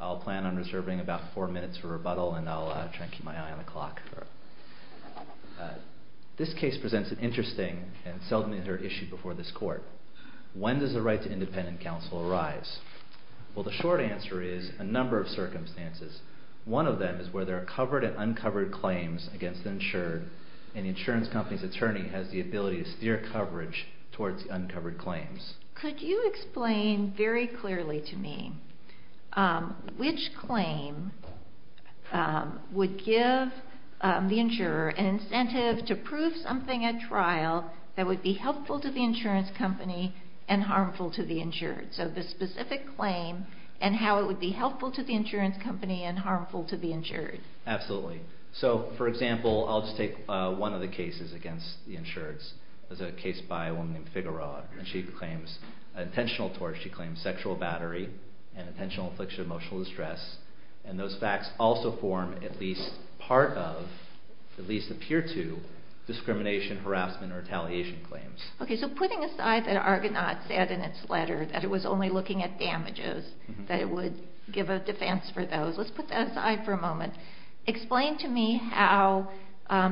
I'll plan on reserving about four minutes for rebuttal and I'll try to keep my eye on the clock. This case presents an interesting and seldom inter-issued before this court. When does the right to independent counsel arise? Well, the short answer is a number of circumstances. One of them is where there are covered and undisclosed circumstances. The insurance company's attorney has the ability to steer coverage towards the uncovered claims. Could you explain very clearly to me which claim would give the insurer an incentive to prove something at trial that would be helpful to the insurance company and harmful to the insured? So the specific claim and how it would be helpful to the insurance company and harmful to the insured. Absolutely. So, for example, I'll just take one of the cases against the insured. It's a case by a woman named Figaro. She claims sexual battery and intentional affliction of emotional distress. And those facts also form at least part of, at least appear to, discrimination, harassment, or retaliation claims. Okay, so putting aside that Argonaut said in its letter that it was only looking at damages, that it would give a defense for those, let's put that aside for a moment. Explain to me how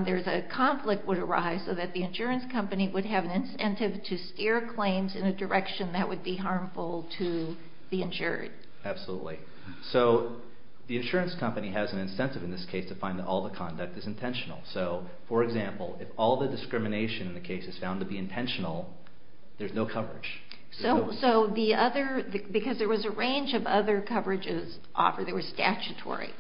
there's a conflict would arise so that the insurance company would have an incentive to steer claims in a direction that would be harmful to the insured. Absolutely. So the insurance company has an incentive in this case to find that all the conduct is intentional. So, for example, if all the discrimination in the case is found to be intentional, there's no coverage. So the other, because there was a range of other coverages offered that were statutory.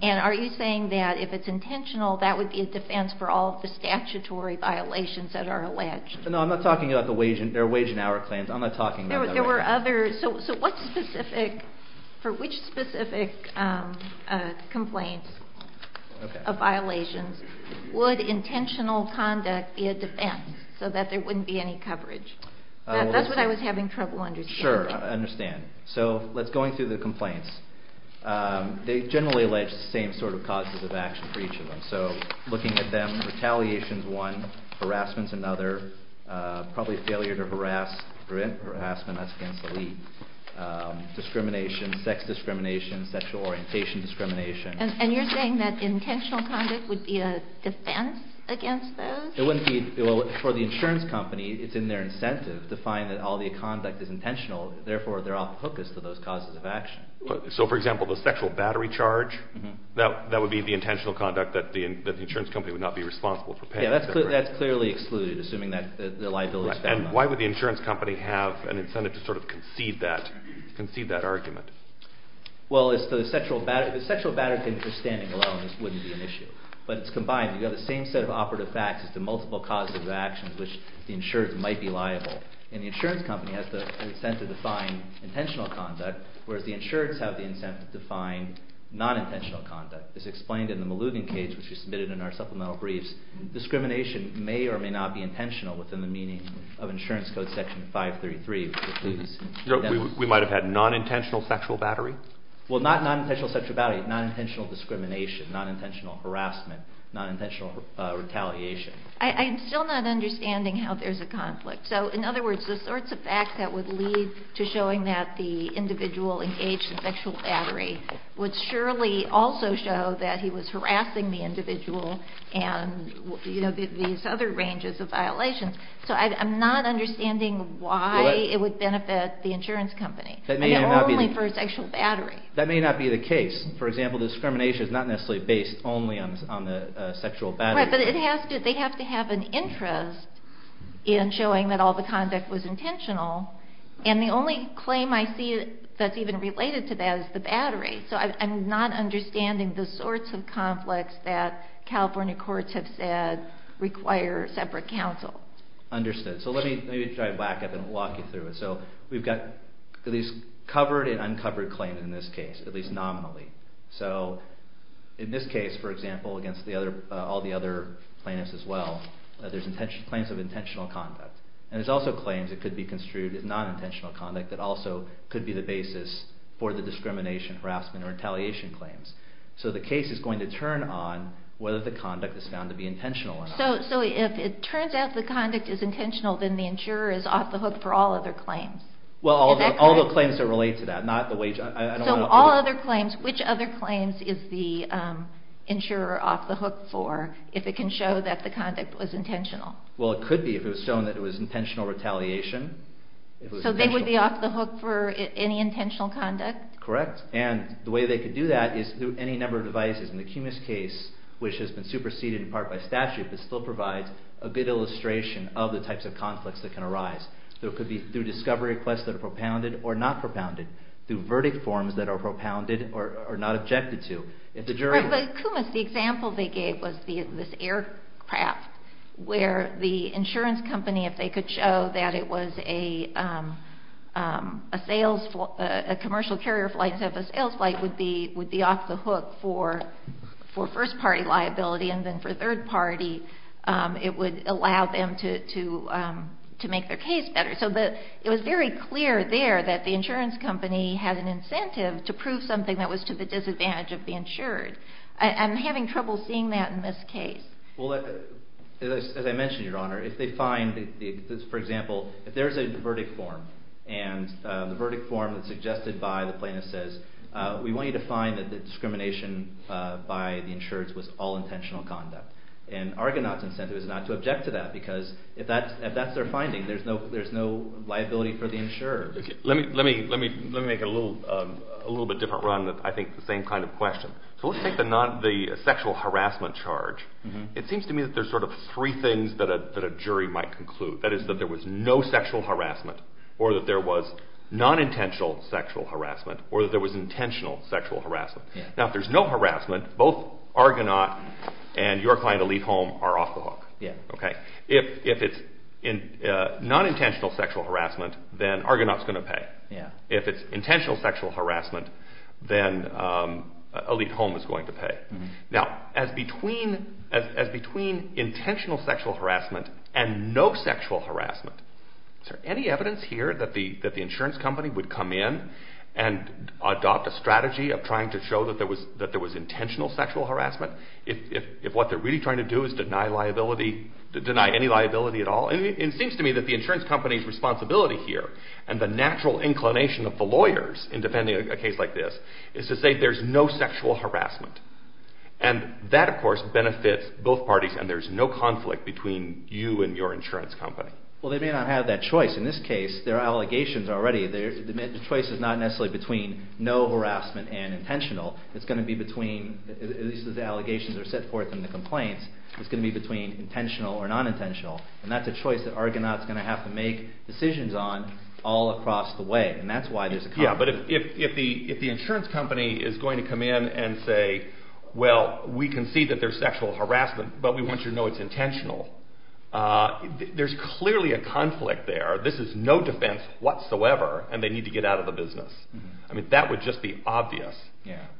And are you saying that if it's intentional, that would be a defense for all of the statutory violations that are alleged? No, I'm not talking about the wage and hour claims. There were others. So what specific, for which specific complaints of violations would intentional conduct be a defense so that there wouldn't be any coverage? That's what I was having trouble understanding. Sure, I understand. So let's go into the complaints. They generally allege the same sort of causes of action for each of them. So looking at them, retaliation is one, harassment is another, probably failure to prevent harassment, that's against the lead, discrimination, sex discrimination, sexual orientation discrimination. And you're saying that intentional conduct would be a defense against those? For the insurance company, it's in their incentive to find that all the conduct is intentional, therefore they're off the hook as to those causes of action. So, for example, the sexual battery charge, that would be the intentional conduct that the insurance company would not be responsible for paying? Yeah, that's clearly excluded, assuming that the liability is found. And why would the insurance company have an incentive to sort of concede that argument? Well, it's the sexual battery standing alone wouldn't be an issue, but it's combined. You've got the same set of operative facts as the multiple causes of action, which the insurance might be liable. And the insurance company has the incentive to find intentional conduct, whereas the insurance have the incentive to find non-intentional conduct. It's explained in the Malugan case, which was submitted in our supplemental briefs. And discrimination may or may not be intentional within the meaning of insurance code section 533. We might have had non-intentional sexual battery? Well, not non-intentional sexual battery, non-intentional discrimination, non-intentional harassment, non-intentional retaliation. I'm still not understanding how there's a conflict. So, in other words, the sorts of facts that would lead to showing that the individual engaged in sexual battery would surely also show that he was harassing the individual and these other ranges of violations. So I'm not understanding why it would benefit the insurance company. That may not be the case. For example, discrimination is not necessarily based only on the sexual battery. Right, but they have to have an interest in showing that all the conduct was intentional. And the only claim I see that's even related to that is the battery. So I'm not understanding the sorts of conflicts that California courts have said require separate counsel. Understood. So let me try to back up and walk you through it. So we've got these covered and uncovered claims in this case, at least nominally. So in this case, for example, against all the other plaintiffs as well, there's claims of intentional conduct. And there's also claims that could be construed as non-intentional conduct that also could be the basis for the discrimination, harassment, or retaliation claims. So the case is going to turn on whether the conduct is found to be intentional or not. So if it turns out the conduct is intentional, then the insurer is off the hook for all other claims. Well, all the claims that relate to that, not the wage. So all other claims, which other claims is the insurer off the hook for if it can show that the conduct was intentional? Well, it could be if it was shown that it was intentional retaliation. So they would be off the hook for any intentional conduct? Correct. And the way they could do that is through any number of devices. And the Kumis case, which has been superseded in part by statute, but still provides a good illustration of the types of conflicts that can arise. So it could be through discovery requests that are propounded or not propounded, through verdict forms that are propounded or not objected to. But Kumis, the example they gave was this aircraft where the insurance company, if they could show that it was a commercial carrier flight instead of a sales flight, would be off the hook for first-party liability. And then for third-party, it would allow them to make their case better. So it was very clear there that the insurance company had an incentive to prove something that was to the disadvantage of the insurer. I'm having trouble seeing that in this case. Well, as I mentioned, Your Honor, if they find, for example, if there's a verdict form, and the verdict form that's suggested by the plaintiff says, we want you to find that the discrimination by the insurers was all intentional conduct. And Argonaut's incentive is not to object to that, because if that's their finding, there's no liability for the insurer. Let me make a little bit different run, I think the same kind of question. So let's take the sexual harassment charge. It seems to me that there's sort of three things that a jury might conclude. That is, that there was no sexual harassment, or that there was non-intentional sexual harassment, or that there was intentional sexual harassment. Now, if there's no harassment, both Argonaut and your client to leave home are off the hook. If it's non-intentional sexual harassment, then Argonaut's going to pay. If it's intentional sexual harassment, then Elite Home is going to pay. Now, as between intentional sexual harassment and no sexual harassment, is there any evidence here that the insurance company would come in and adopt a strategy of trying to show that there was intentional sexual harassment? If what they're really trying to do is deny any liability at all? It seems to me that the insurance company's responsibility here, and the natural inclination of the lawyers in defending a case like this, is to say there's no sexual harassment. And that, of course, benefits both parties, and there's no conflict between you and your insurance company. Well, they may not have that choice. In this case, there are allegations already. The choice is not necessarily between no harassment and intentional. It's going to be between, at least the allegations are set forth in the complaints, it's going to be between intentional or non-intentional. And that's a choice that Argonaut's going to have to make decisions on all across the way. And that's why there's a conflict. Yeah, but if the insurance company is going to come in and say, well, we can see that there's sexual harassment, but we want you to know it's intentional, there's clearly a conflict there. This is no defense whatsoever, and they need to get out of the business. I mean, that would just be obvious.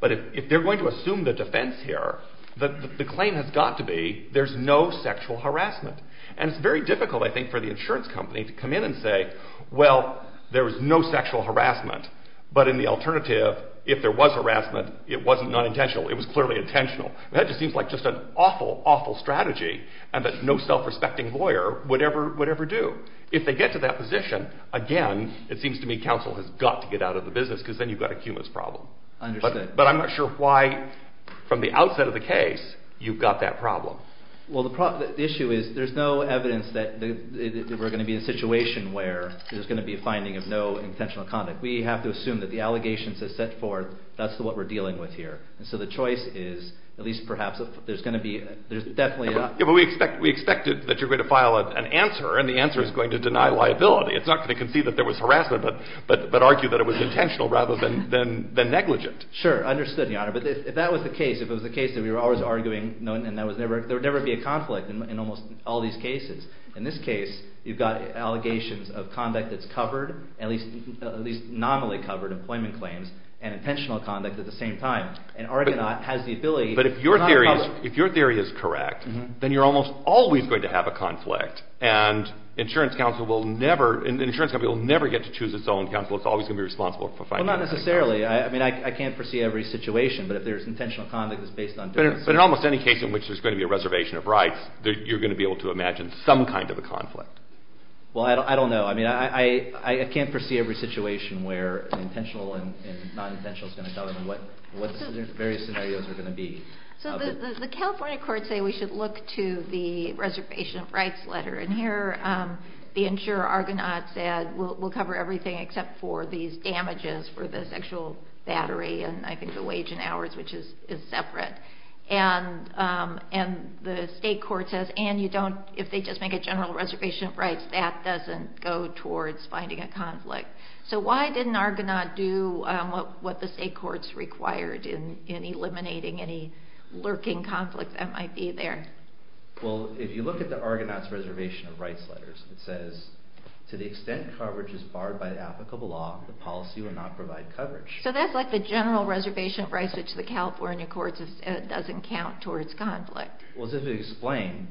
But if they're going to assume the defense here, the claim has got to be there's no sexual harassment. And it's very difficult, I think, for the insurance company to come in and say, well, there was no sexual harassment, but in the alternative, if there was harassment, it wasn't non-intentional, it was clearly intentional. That just seems like just an awful, awful strategy, and that no self-respecting lawyer would ever do. If they get to that position, again, it seems to me counsel has got to get out of the business, because then you've got a humus problem. Understood. But I'm not sure why, from the outset of the case, you've got that problem. Well, the issue is there's no evidence that we're going to be in a situation where there's going to be a finding of no intentional conduct. We have to assume that the allegations are set forth. That's what we're dealing with here. And so the choice is, at least perhaps, there's going to be definitely a… Yeah, but we expected that you were going to file an answer, and the answer is going to deny liability. It's not going to concede that there was harassment, but argue that it was intentional rather than negligent. Sure, understood, Your Honor. But if that was the case, if it was the case that we were always arguing, and there would never be a conflict in almost all these cases, in this case, you've got allegations of conduct that's covered, at least nominally covered employment claims, and intentional conduct at the same time. And Argonaut has the ability… But if your theory is correct, then you're almost always going to have a conflict, and an insurance company will never get to choose its own counsel. It's always going to be responsible for finding… Well, not necessarily. I mean, I can't foresee every situation, but if there's intentional conduct that's based on… But in almost any case in which there's going to be a reservation of rights, you're going to be able to imagine some kind of a conflict. Well, I don't know. I mean, I can't foresee every situation where an intentional and non-intentional is going to come, and what the various scenarios are going to be. So the California courts say we should look to the reservation of rights letter, and here the insurer Argonaut said, we'll cover everything except for these damages for the sexual battery and I think the wage and hours, which is separate. And the state court says, and if they just make a general reservation of rights, that doesn't go towards finding a conflict. So why didn't Argonaut do what the state courts required in eliminating any lurking conflict that might be there? Well, if you look at the Argonaut's reservation of rights letters, it says, to the extent coverage is barred by applicable law, the policy will not provide coverage. So that's like the general reservation of rights, which the California courts have said doesn't count towards conflict. Well, as we've explained,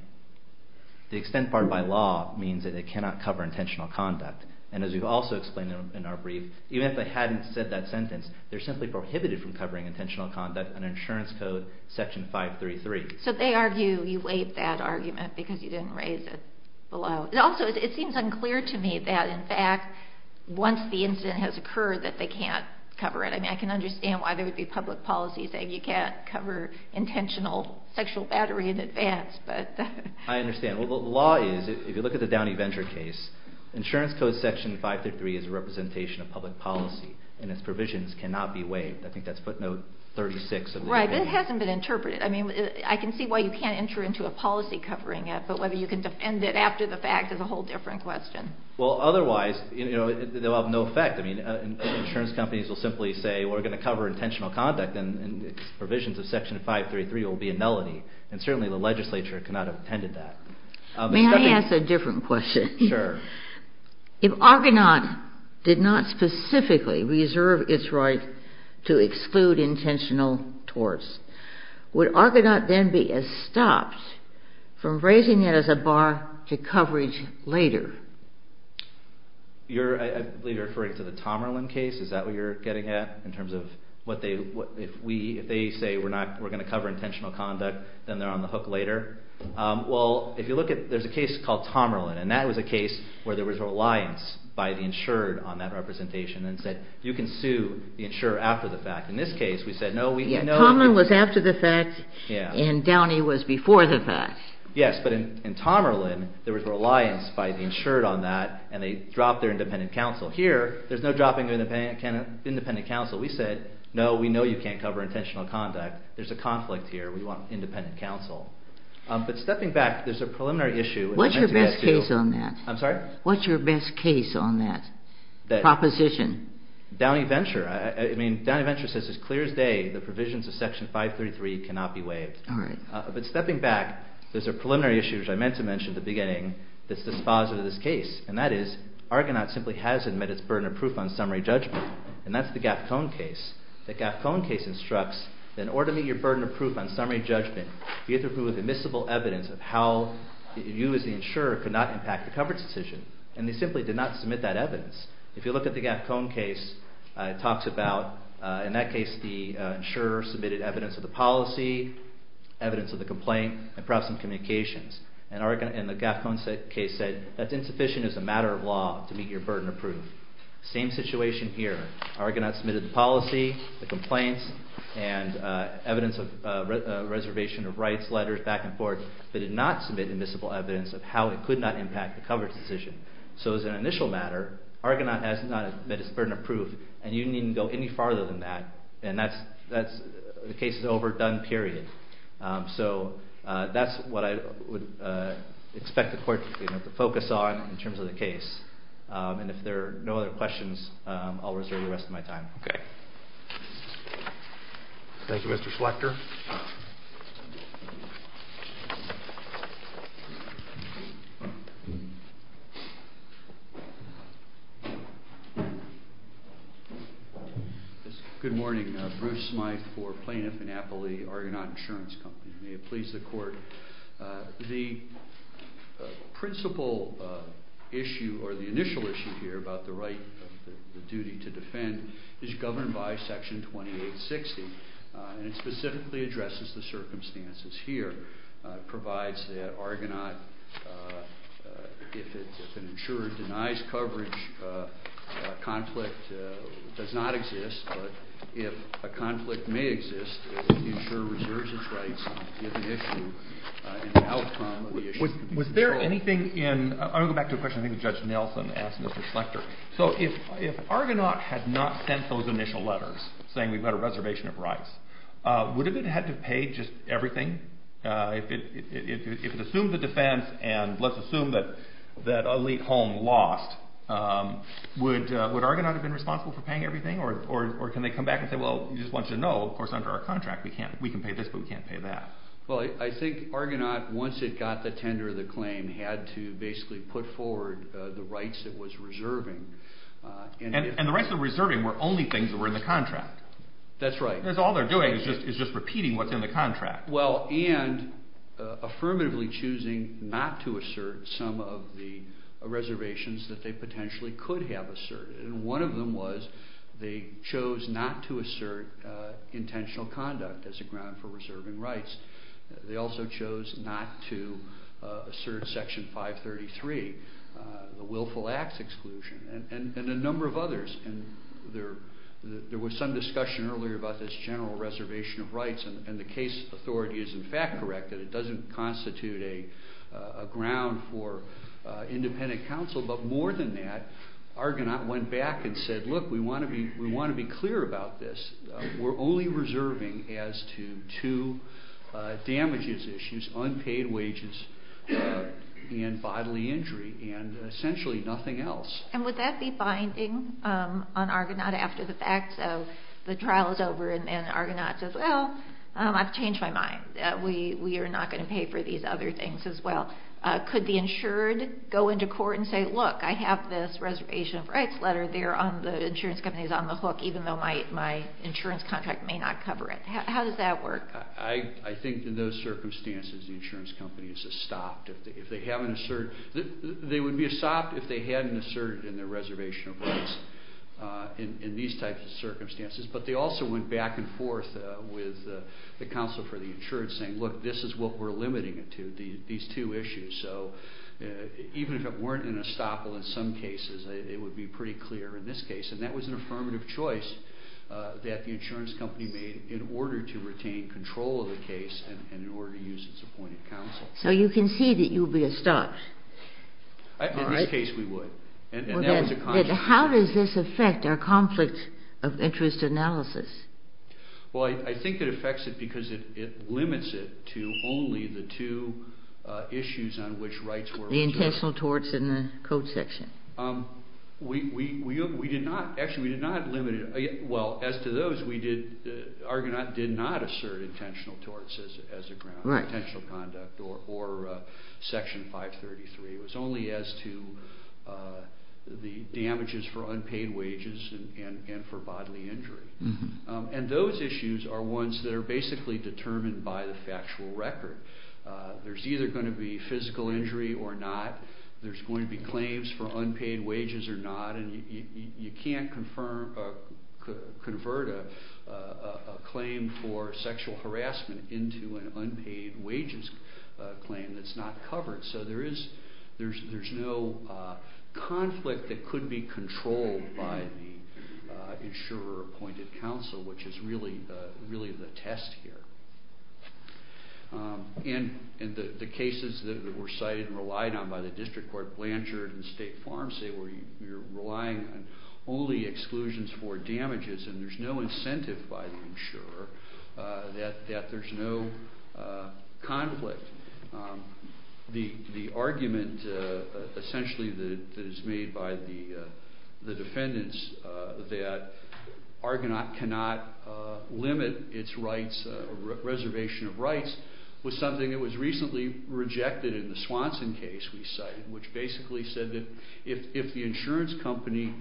the extent barred by law means that it cannot cover intentional conduct. And as we've also explained in our brief, even if they hadn't said that sentence, they're simply prohibited from covering intentional conduct under insurance code section 533. So they argue you waived that argument because you didn't raise it below. Also, it seems unclear to me that in fact, once the incident has occurred, that they can't cover it. I mean, I can understand why there would be public policy saying you can't cover intentional sexual battery in advance, but... I understand. Well, the law is, if you look at the Downey Venture case, insurance code section 533 is a representation of public policy and its provisions cannot be waived. I think that's footnote 36. Right, but it hasn't been interpreted. I mean, I can see why you can't enter into a policy covering it, but whether you can defend it after the fact is a whole different question. Well, otherwise, you know, they'll have no effect. I mean, insurance companies will simply say, we're going to cover intentional conduct and its provisions of section 533 will be a nullity. And certainly the legislature cannot have intended that. May I ask a different question? Sure. If Argonaut did not specifically reserve its right to exclude intentional torts, would Argonaut then be stopped from raising it as a bar to coverage later? You're, I believe, referring to the Tomerlin case. Is that what you're getting at in terms of what they, if they say we're going to cover intentional conduct, then they're on the hook later? Well, if you look at, there's a case called Tomerlin, and that was a case where there was a reliance by the insured on that representation and said you can sue the insurer after the fact. In this case, we said no. Tomerlin was after the fact and Downey was before the fact. Yes, but in Tomerlin, there was reliance by the insured on that and they dropped their independent counsel. Here, there's no dropping of independent counsel. We said, no, we know you can't cover intentional conduct. There's a conflict here. We want independent counsel. But stepping back, there's a preliminary issue. What's your best case on that? I'm sorry? What's your best case on that proposition? Downey Venture. I mean, Downey Venture says as clear as day, the provisions of Section 533 cannot be waived. All right. But stepping back, there's a preliminary issue, which I meant to mention at the beginning, that's dispositive of this case, and that is Argonaut simply has admitted it's burden of proof on summary judgment, and that's the Gafcone case. The Gafcone case instructs that in order to meet your burden of proof on summary judgment, you have to prove with admissible evidence of how you as the insurer could not impact the coverage decision. And they simply did not submit that evidence. If you look at the Gafcone case, it talks about, in that case, the insurer submitted evidence of the policy, evidence of the complaint, and perhaps some communications. And the Gafcone case said that's insufficient as a matter of law to meet your burden of proof. Same situation here. Argonaut submitted the policy, the complaints, and evidence of reservation of rights letters, back and forth, but did not submit admissible evidence of how it could not impact the coverage decision. So as an initial matter, Argonaut has not admitted its burden of proof, and you needn't go any farther than that, and the case is over, done, period. So that's what I would expect the Court to focus on in terms of the case. And if there are no other questions, I'll reserve the rest of my time. Okay. Thank you, Mr. Schlechter. Thank you. Good morning. Bruce Smyth for Plaintiff & Appley, Argonaut Insurance Company. May it please the Court. The principal issue, or the initial issue here, about the right, the duty to defend, is governed by Section 2860, and it specifically addresses the circumstances here. It provides that Argonaut, if an insurer denies coverage, a conflict does not exist, but if a conflict may exist, the insurer reserves its rights on a given issue, and the outcome of the issue can be controlled. Was there anything in... I want to go back to a question I think Judge Nelson asked Mr. Schlechter. So if Argonaut had not sent those initial letters saying we've got a reservation of rights, would it have had to pay just everything? If it assumed the defense, and let's assume that Elite Home lost, would Argonaut have been responsible for paying everything? Or can they come back and say, well, we just want you to know, of course, under our contract, we can pay this, but we can't pay that. Well, I think Argonaut, once it got the tender of the claim, had to basically put forward the rights it was reserving. And the rights it was reserving were only things that were in the contract. That's right. All they're doing is just repeating what's in the contract. Well, and affirmatively choosing not to assert some of the reservations that they potentially could have asserted. One of them was they chose not to assert intentional conduct as a ground for reserving rights. They also chose not to assert Section 533, the willful acts exclusion, and a number of others. And there was some discussion earlier about this general reservation of rights, and the case authority is, in fact, correct that it doesn't constitute a ground for independent counsel. But more than that, Argonaut went back and said, look, we want to be clear about this. We're only reserving as to two damages issues, unpaid wages and bodily injury, and essentially nothing else. And would that be binding on Argonaut after the fact? So the trial is over and Argonaut says, well, I've changed my mind. We are not going to pay for these other things as well. Could the insured go into court and say, look, I have this reservation of rights letter there on the insurance companies on the hook, even though my insurance contract may not cover it? How does that work? I think in those circumstances the insurance companies have stopped. They would be stopped if they hadn't asserted in their reservation of rights in these types of circumstances. But they also went back and forth with the counsel for the insurance saying, look, this is what we're limiting it to, these two issues. So even if it weren't an estoppel in some cases, it would be pretty clear in this case. And that was an affirmative choice that the insurance company made in order to retain control of the case and in order to use its appointed counsel. So you can see that you would be estopped. In this case we would. How does this affect our conflict of interest analysis? Well, I think it affects it because it limits it to only the two issues on which rights were reserved. The intentional torts and the code section. We did not, actually we did not limit it. Well, as to those, Argonaut did not assert intentional torts as a ground for intentional conduct or Section 533. It was only as to the damages for unpaid wages and for bodily injury. And those issues are ones that are basically determined by the factual record. There's either going to be physical injury or not. There's going to be claims for unpaid wages or not. And you can't convert a claim for sexual harassment into an unpaid wages claim that's not covered. So there's no conflict that could be controlled by the insurer-appointed counsel, which is really the test here. And the cases that were cited and relied on by the district court, Blanchard and State Farm say you're relying on only exclusions for damages and there's no incentive by the insurer that there's no conflict. The argument, essentially, that is made by the defendants that Argonaut cannot limit its reservation of rights was something that was recently rejected in the Swanson case we cited, which basically said that if the insurance company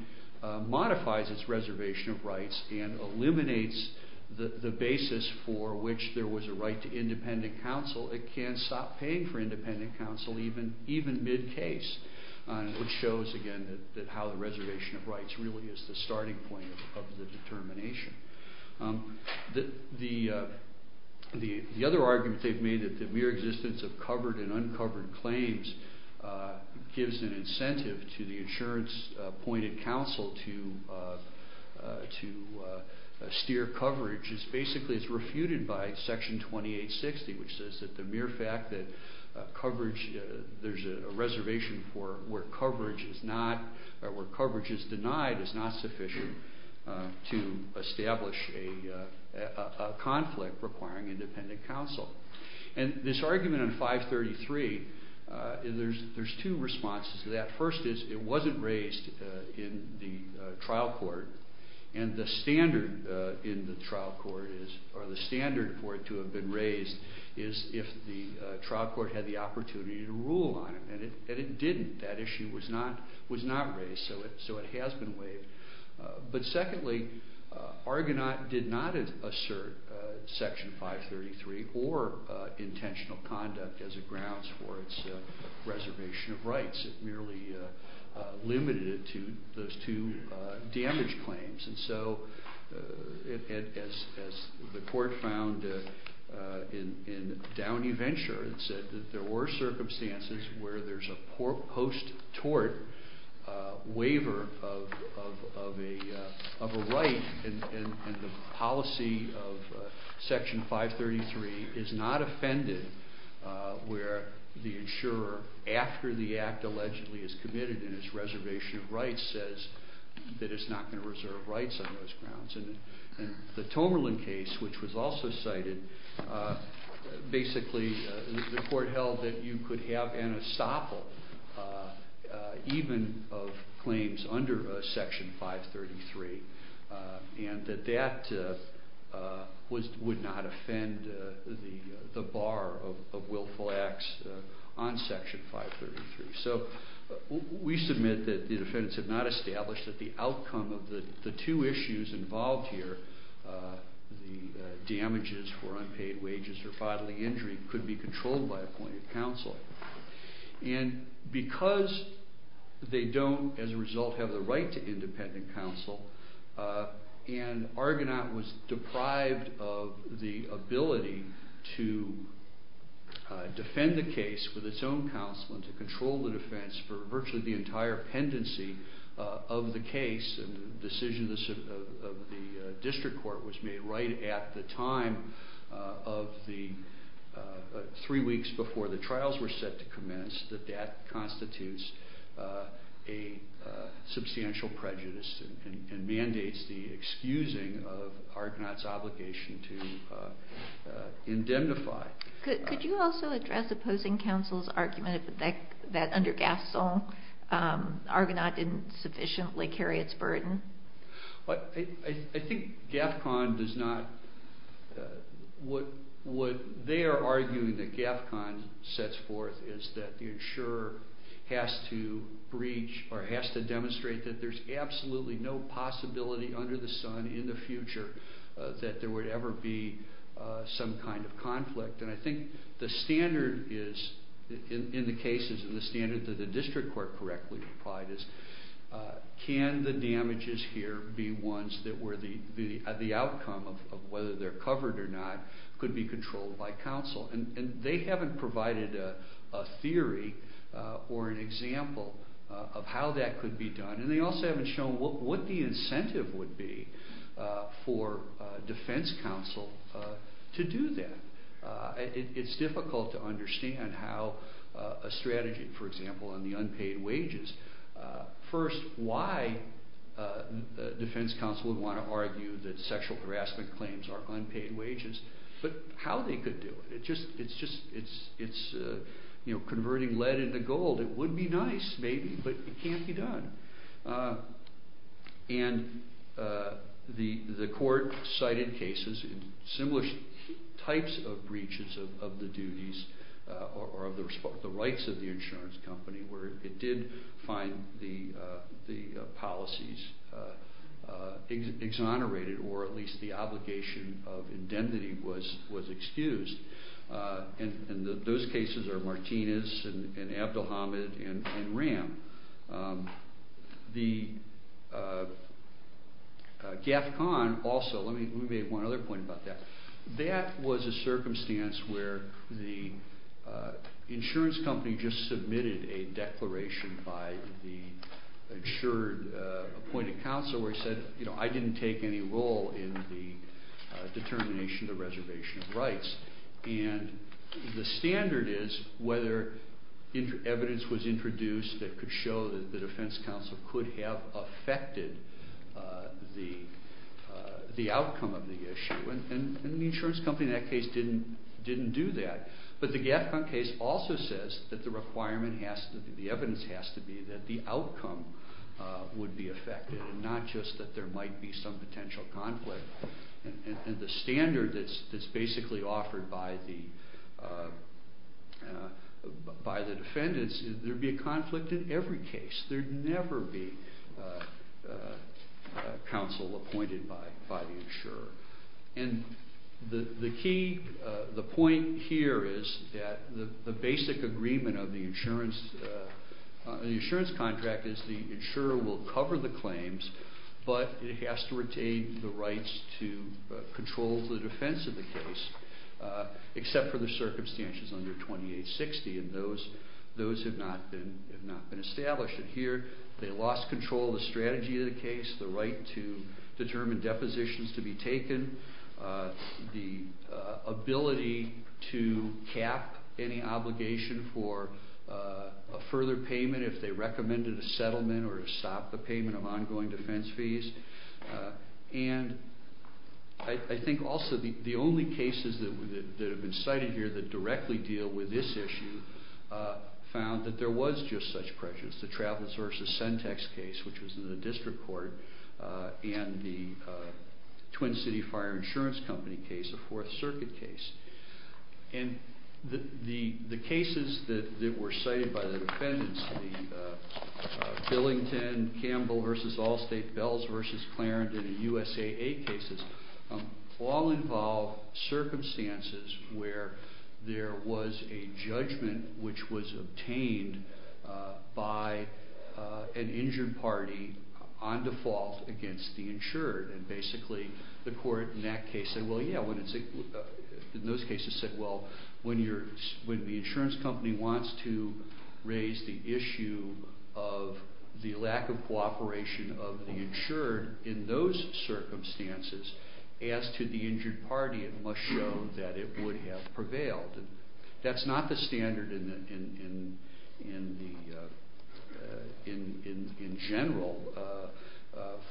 modifies its reservation of rights and eliminates the basis for which there was a right to independent counsel, it can stop paying for independent counsel even mid-case, which shows, again, that how the reservation of rights really is the starting point of the determination. The other argument they've made, that the mere existence of covered and uncovered claims gives an incentive to the insurance-appointed counsel to steer coverage is basically refuted by Section 2860, which says that the mere fact that there's a reservation where coverage is denied is not sufficient to establish a conflict requiring independent counsel. And this argument in 533, there's two responses to that. First is it wasn't raised in the trial court and the standard for it to have been raised is if the trial court had the opportunity to rule on it, and it didn't. That issue was not raised, so it has been waived. But secondly, Argonaut did not assert Section 533 or intentional conduct as a grounds for its reservation of rights. It merely limited it to those two damaged claims. And so, as the court found in Downey Venture, it said that there were circumstances where there's a post-tort waiver of a right, and the policy of Section 533 is not offended where the insurer, after the act allegedly is committed and its reservation of rights, says that it's not going to reserve rights on those grounds. And the Tomerlin case, which was also cited, basically the court held that you could have an estoppel even of claims under Section 533, and that that would not offend the bar of willful acts on Section 533. So we submit that the defendants have not established that the outcome of the two issues involved here, the damages for unpaid wages or bodily injury, could be controlled by appointed counsel. And because they don't, as a result, have the right to independent counsel, and Argonaut was deprived of the ability to defend the case with its own counsel and to control the defense for virtually the entire pendency of the case, the decision of the district court was made right at the time of the three weeks before the trials were set to commence that that constitutes a substantial prejudice and mandates the excusing of Argonaut's obligation to indemnify. Could you also address opposing counsel's argument that under Gaffcon, Argonaut didn't sufficiently carry its burden? I think Gaffcon does not... What they are arguing that Gaffcon sets forth is that the insurer has to breach or has to demonstrate that there's absolutely no possibility under the sun in the future that there would ever be some kind of conflict. And I think the standard is, in the cases, and the standard that the district court correctly applied is, can the damages here be ones that were the outcome of whether they're covered or not could be controlled by counsel? And they haven't provided a theory or an example of how that could be done, and they also haven't shown what the incentive would be for defense counsel to do that. It's difficult to understand how a strategy, for example, on the unpaid wages... First, why defense counsel would want to argue that sexual harassment claims are unpaid wages, but how they could do it? It's converting lead into gold. It would be nice, maybe, but it can't be done. And the court cited cases in similar types of breaches of the duties or of the rights of the insurance company where it did find the policies exonerated or at least the obligation of indemnity was excused. And those cases are Martinez and Abdulhamid and Ram. The GAFCON also... Let me make one other point about that. That was a circumstance where the insurance company just submitted a declaration by the insured appointed counsel where it said, you know, I didn't take any role in the determination of the reservation of rights. And the standard is whether evidence was introduced that could show that the defense counsel could have affected the outcome of the issue. And the insurance company in that case didn't do that. But the GAFCON case also says that the requirement has to be, the evidence has to be that the outcome would be affected and not just that there might be some potential conflict. And the standard that's basically offered by the defendants is there would be a conflict in every case. There'd never be counsel appointed by the insurer. And the key, the point here is that the basic agreement of the insurance contract is the insurer will cover the claims, but it has to retain the rights to control the defense of the case except for the circumstances under 2860. And those have not been established. And here they lost control of the strategy of the case, the right to determine depositions to be taken, the ability to cap any obligation for a further payment if they recommended a settlement or to stop the payment of ongoing defense fees. And I think also the only cases that have been cited here that directly deal with this issue found that there was just such pressure. It's the Travels v. Sentex case, which was in the district court, and the Twin City Fire Insurance Company case, a Fourth Circuit case. And the cases that were cited by the defendants, the Billington-Campbell v. Allstate-Bells v. Clarendon and USAA cases, all involve circumstances where there was a judgment which was obtained by an injured party on default against the insured. And basically the court in that case said, well, yeah, in those cases said, well, when the insurance company wants to raise the issue of the lack of cooperation of the insured in those circumstances, as to the injured party, it must show that it would have prevailed. That's not the standard in general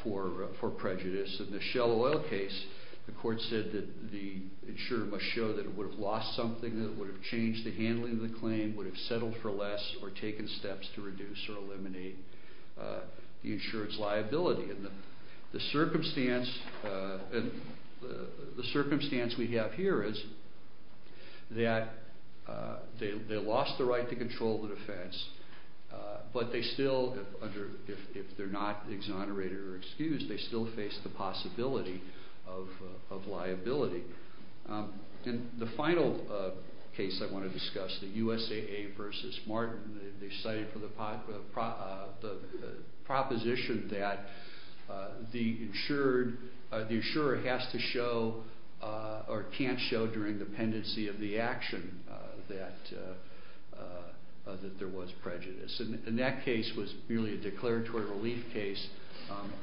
for prejudice. In the Shell Oil case, the court said that the insurer must show that it would have lost something, that it would have changed the handling of the claim, would have settled for less, or taken steps to reduce or eliminate the insurance liability. And the circumstance we have here is that they lost the right to control the defense, but they still, if they're not exonerated or excused, they still face the possibility of liability. And the final case I want to discuss, the USAA versus Martin, they cited for the proposition that the insurer has to show or can't show during the pendency of the action that there was prejudice. And that case was really a declaratory relief case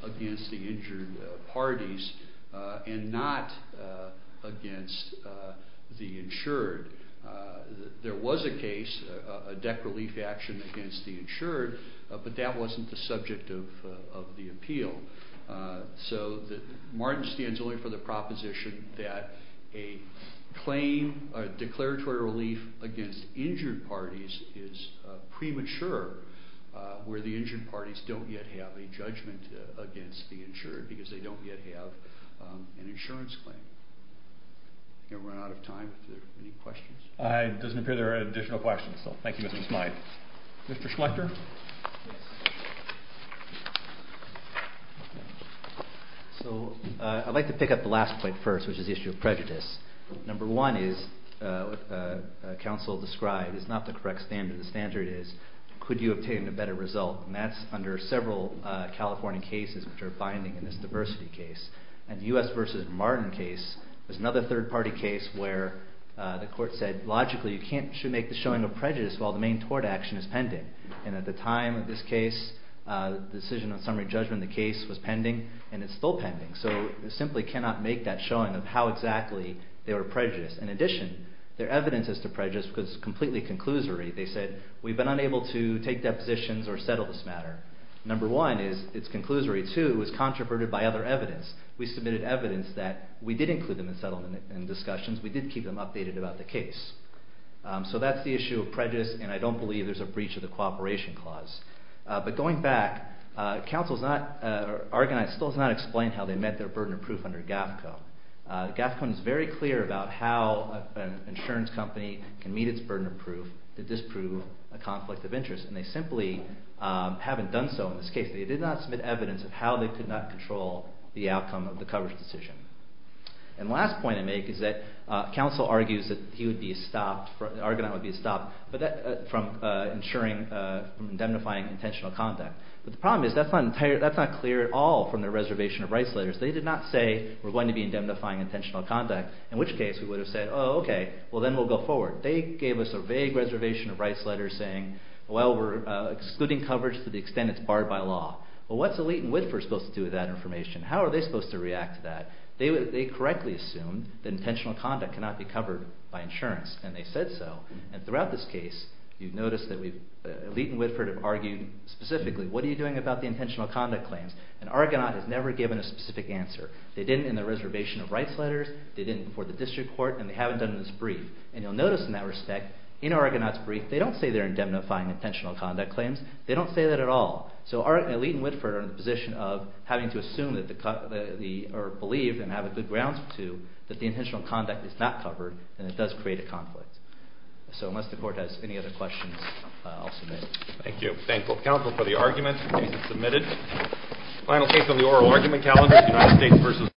against the injured parties and not against the insured. There was a case, a deck relief action against the insured, but that wasn't the subject of the appeal. So Martin stands only for the proposition that a claim, a declaratory relief against injured parties is premature, where the injured parties don't yet have a judgment against the insured, because they don't yet have an insurance claim. I'm going to run out of time if there are any questions. It doesn't appear there are any additional questions, so thank you, Mr. Smyth. Mr. Schlechter? So I'd like to pick up the last point first, which is the issue of prejudice. Number one is what counsel described is not the correct standard. The standard is could you obtain a better result? And that's under several California cases which are binding in this diversity case. And the U.S. versus Martin case is another third-party case where the court said logically you can't make the showing of prejudice while the main tort action is pending. And at the time of this case, the decision on summary judgment of the case was pending, and it's still pending. So you simply cannot make that showing of how exactly they were prejudiced. In addition, their evidence as to prejudice was completely conclusory. They said we've been unable to take depositions or settle this matter. Number one is it's conclusory. Two, it was controverted by other evidence. We submitted evidence that we did include them in settlement and discussions. We did keep them updated about the case. So that's the issue of prejudice, and I don't believe there's a breach of the cooperation clause. But going back, counsel has not organized or still has not explained how they met their burden of proof under GAFCO. GAFCO is very clear about how an insurance company can meet its burden of proof. Did this prove a conflict of interest? And they simply haven't done so in this case. They did not submit evidence of how they could not control the outcome of the coverage decision. And the last point I make is that counsel argues that he would be stopped, that Argonaut would be stopped from ensuring, from indemnifying intentional conduct. But the problem is that's not clear at all from their reservation of rights letters. They did not say we're going to be indemnifying intentional conduct, in which case we would have said, oh, okay, well, then we'll go forward. They gave us a vague reservation of rights letter saying, well, we're excluding coverage to the extent it's barred by law. Well, what's Elite and Whitford supposed to do with that information? How are they supposed to react to that? They correctly assumed that intentional conduct cannot be covered by insurance, and they said so. And throughout this case, you've noticed that Elite and Whitford have argued specifically, what are you doing about the intentional conduct claims? And Argonaut has never given a specific answer. They didn't in their reservation of rights letters, they didn't before the district court, and they haven't done it in this brief. And you'll notice in that respect, in Argonaut's brief, they don't say they're indemnifying intentional conduct claims. They don't say that at all. So Elite and Whitford are in the position of having to assume or believe and have a good grounds to that the intentional conduct is not covered and it does create a conflict. So unless the court has any other questions, I'll submit. Thank you. Thank both counsel for the argument. The case is submitted. Final case on the oral argument calendar, United States v. Oregon.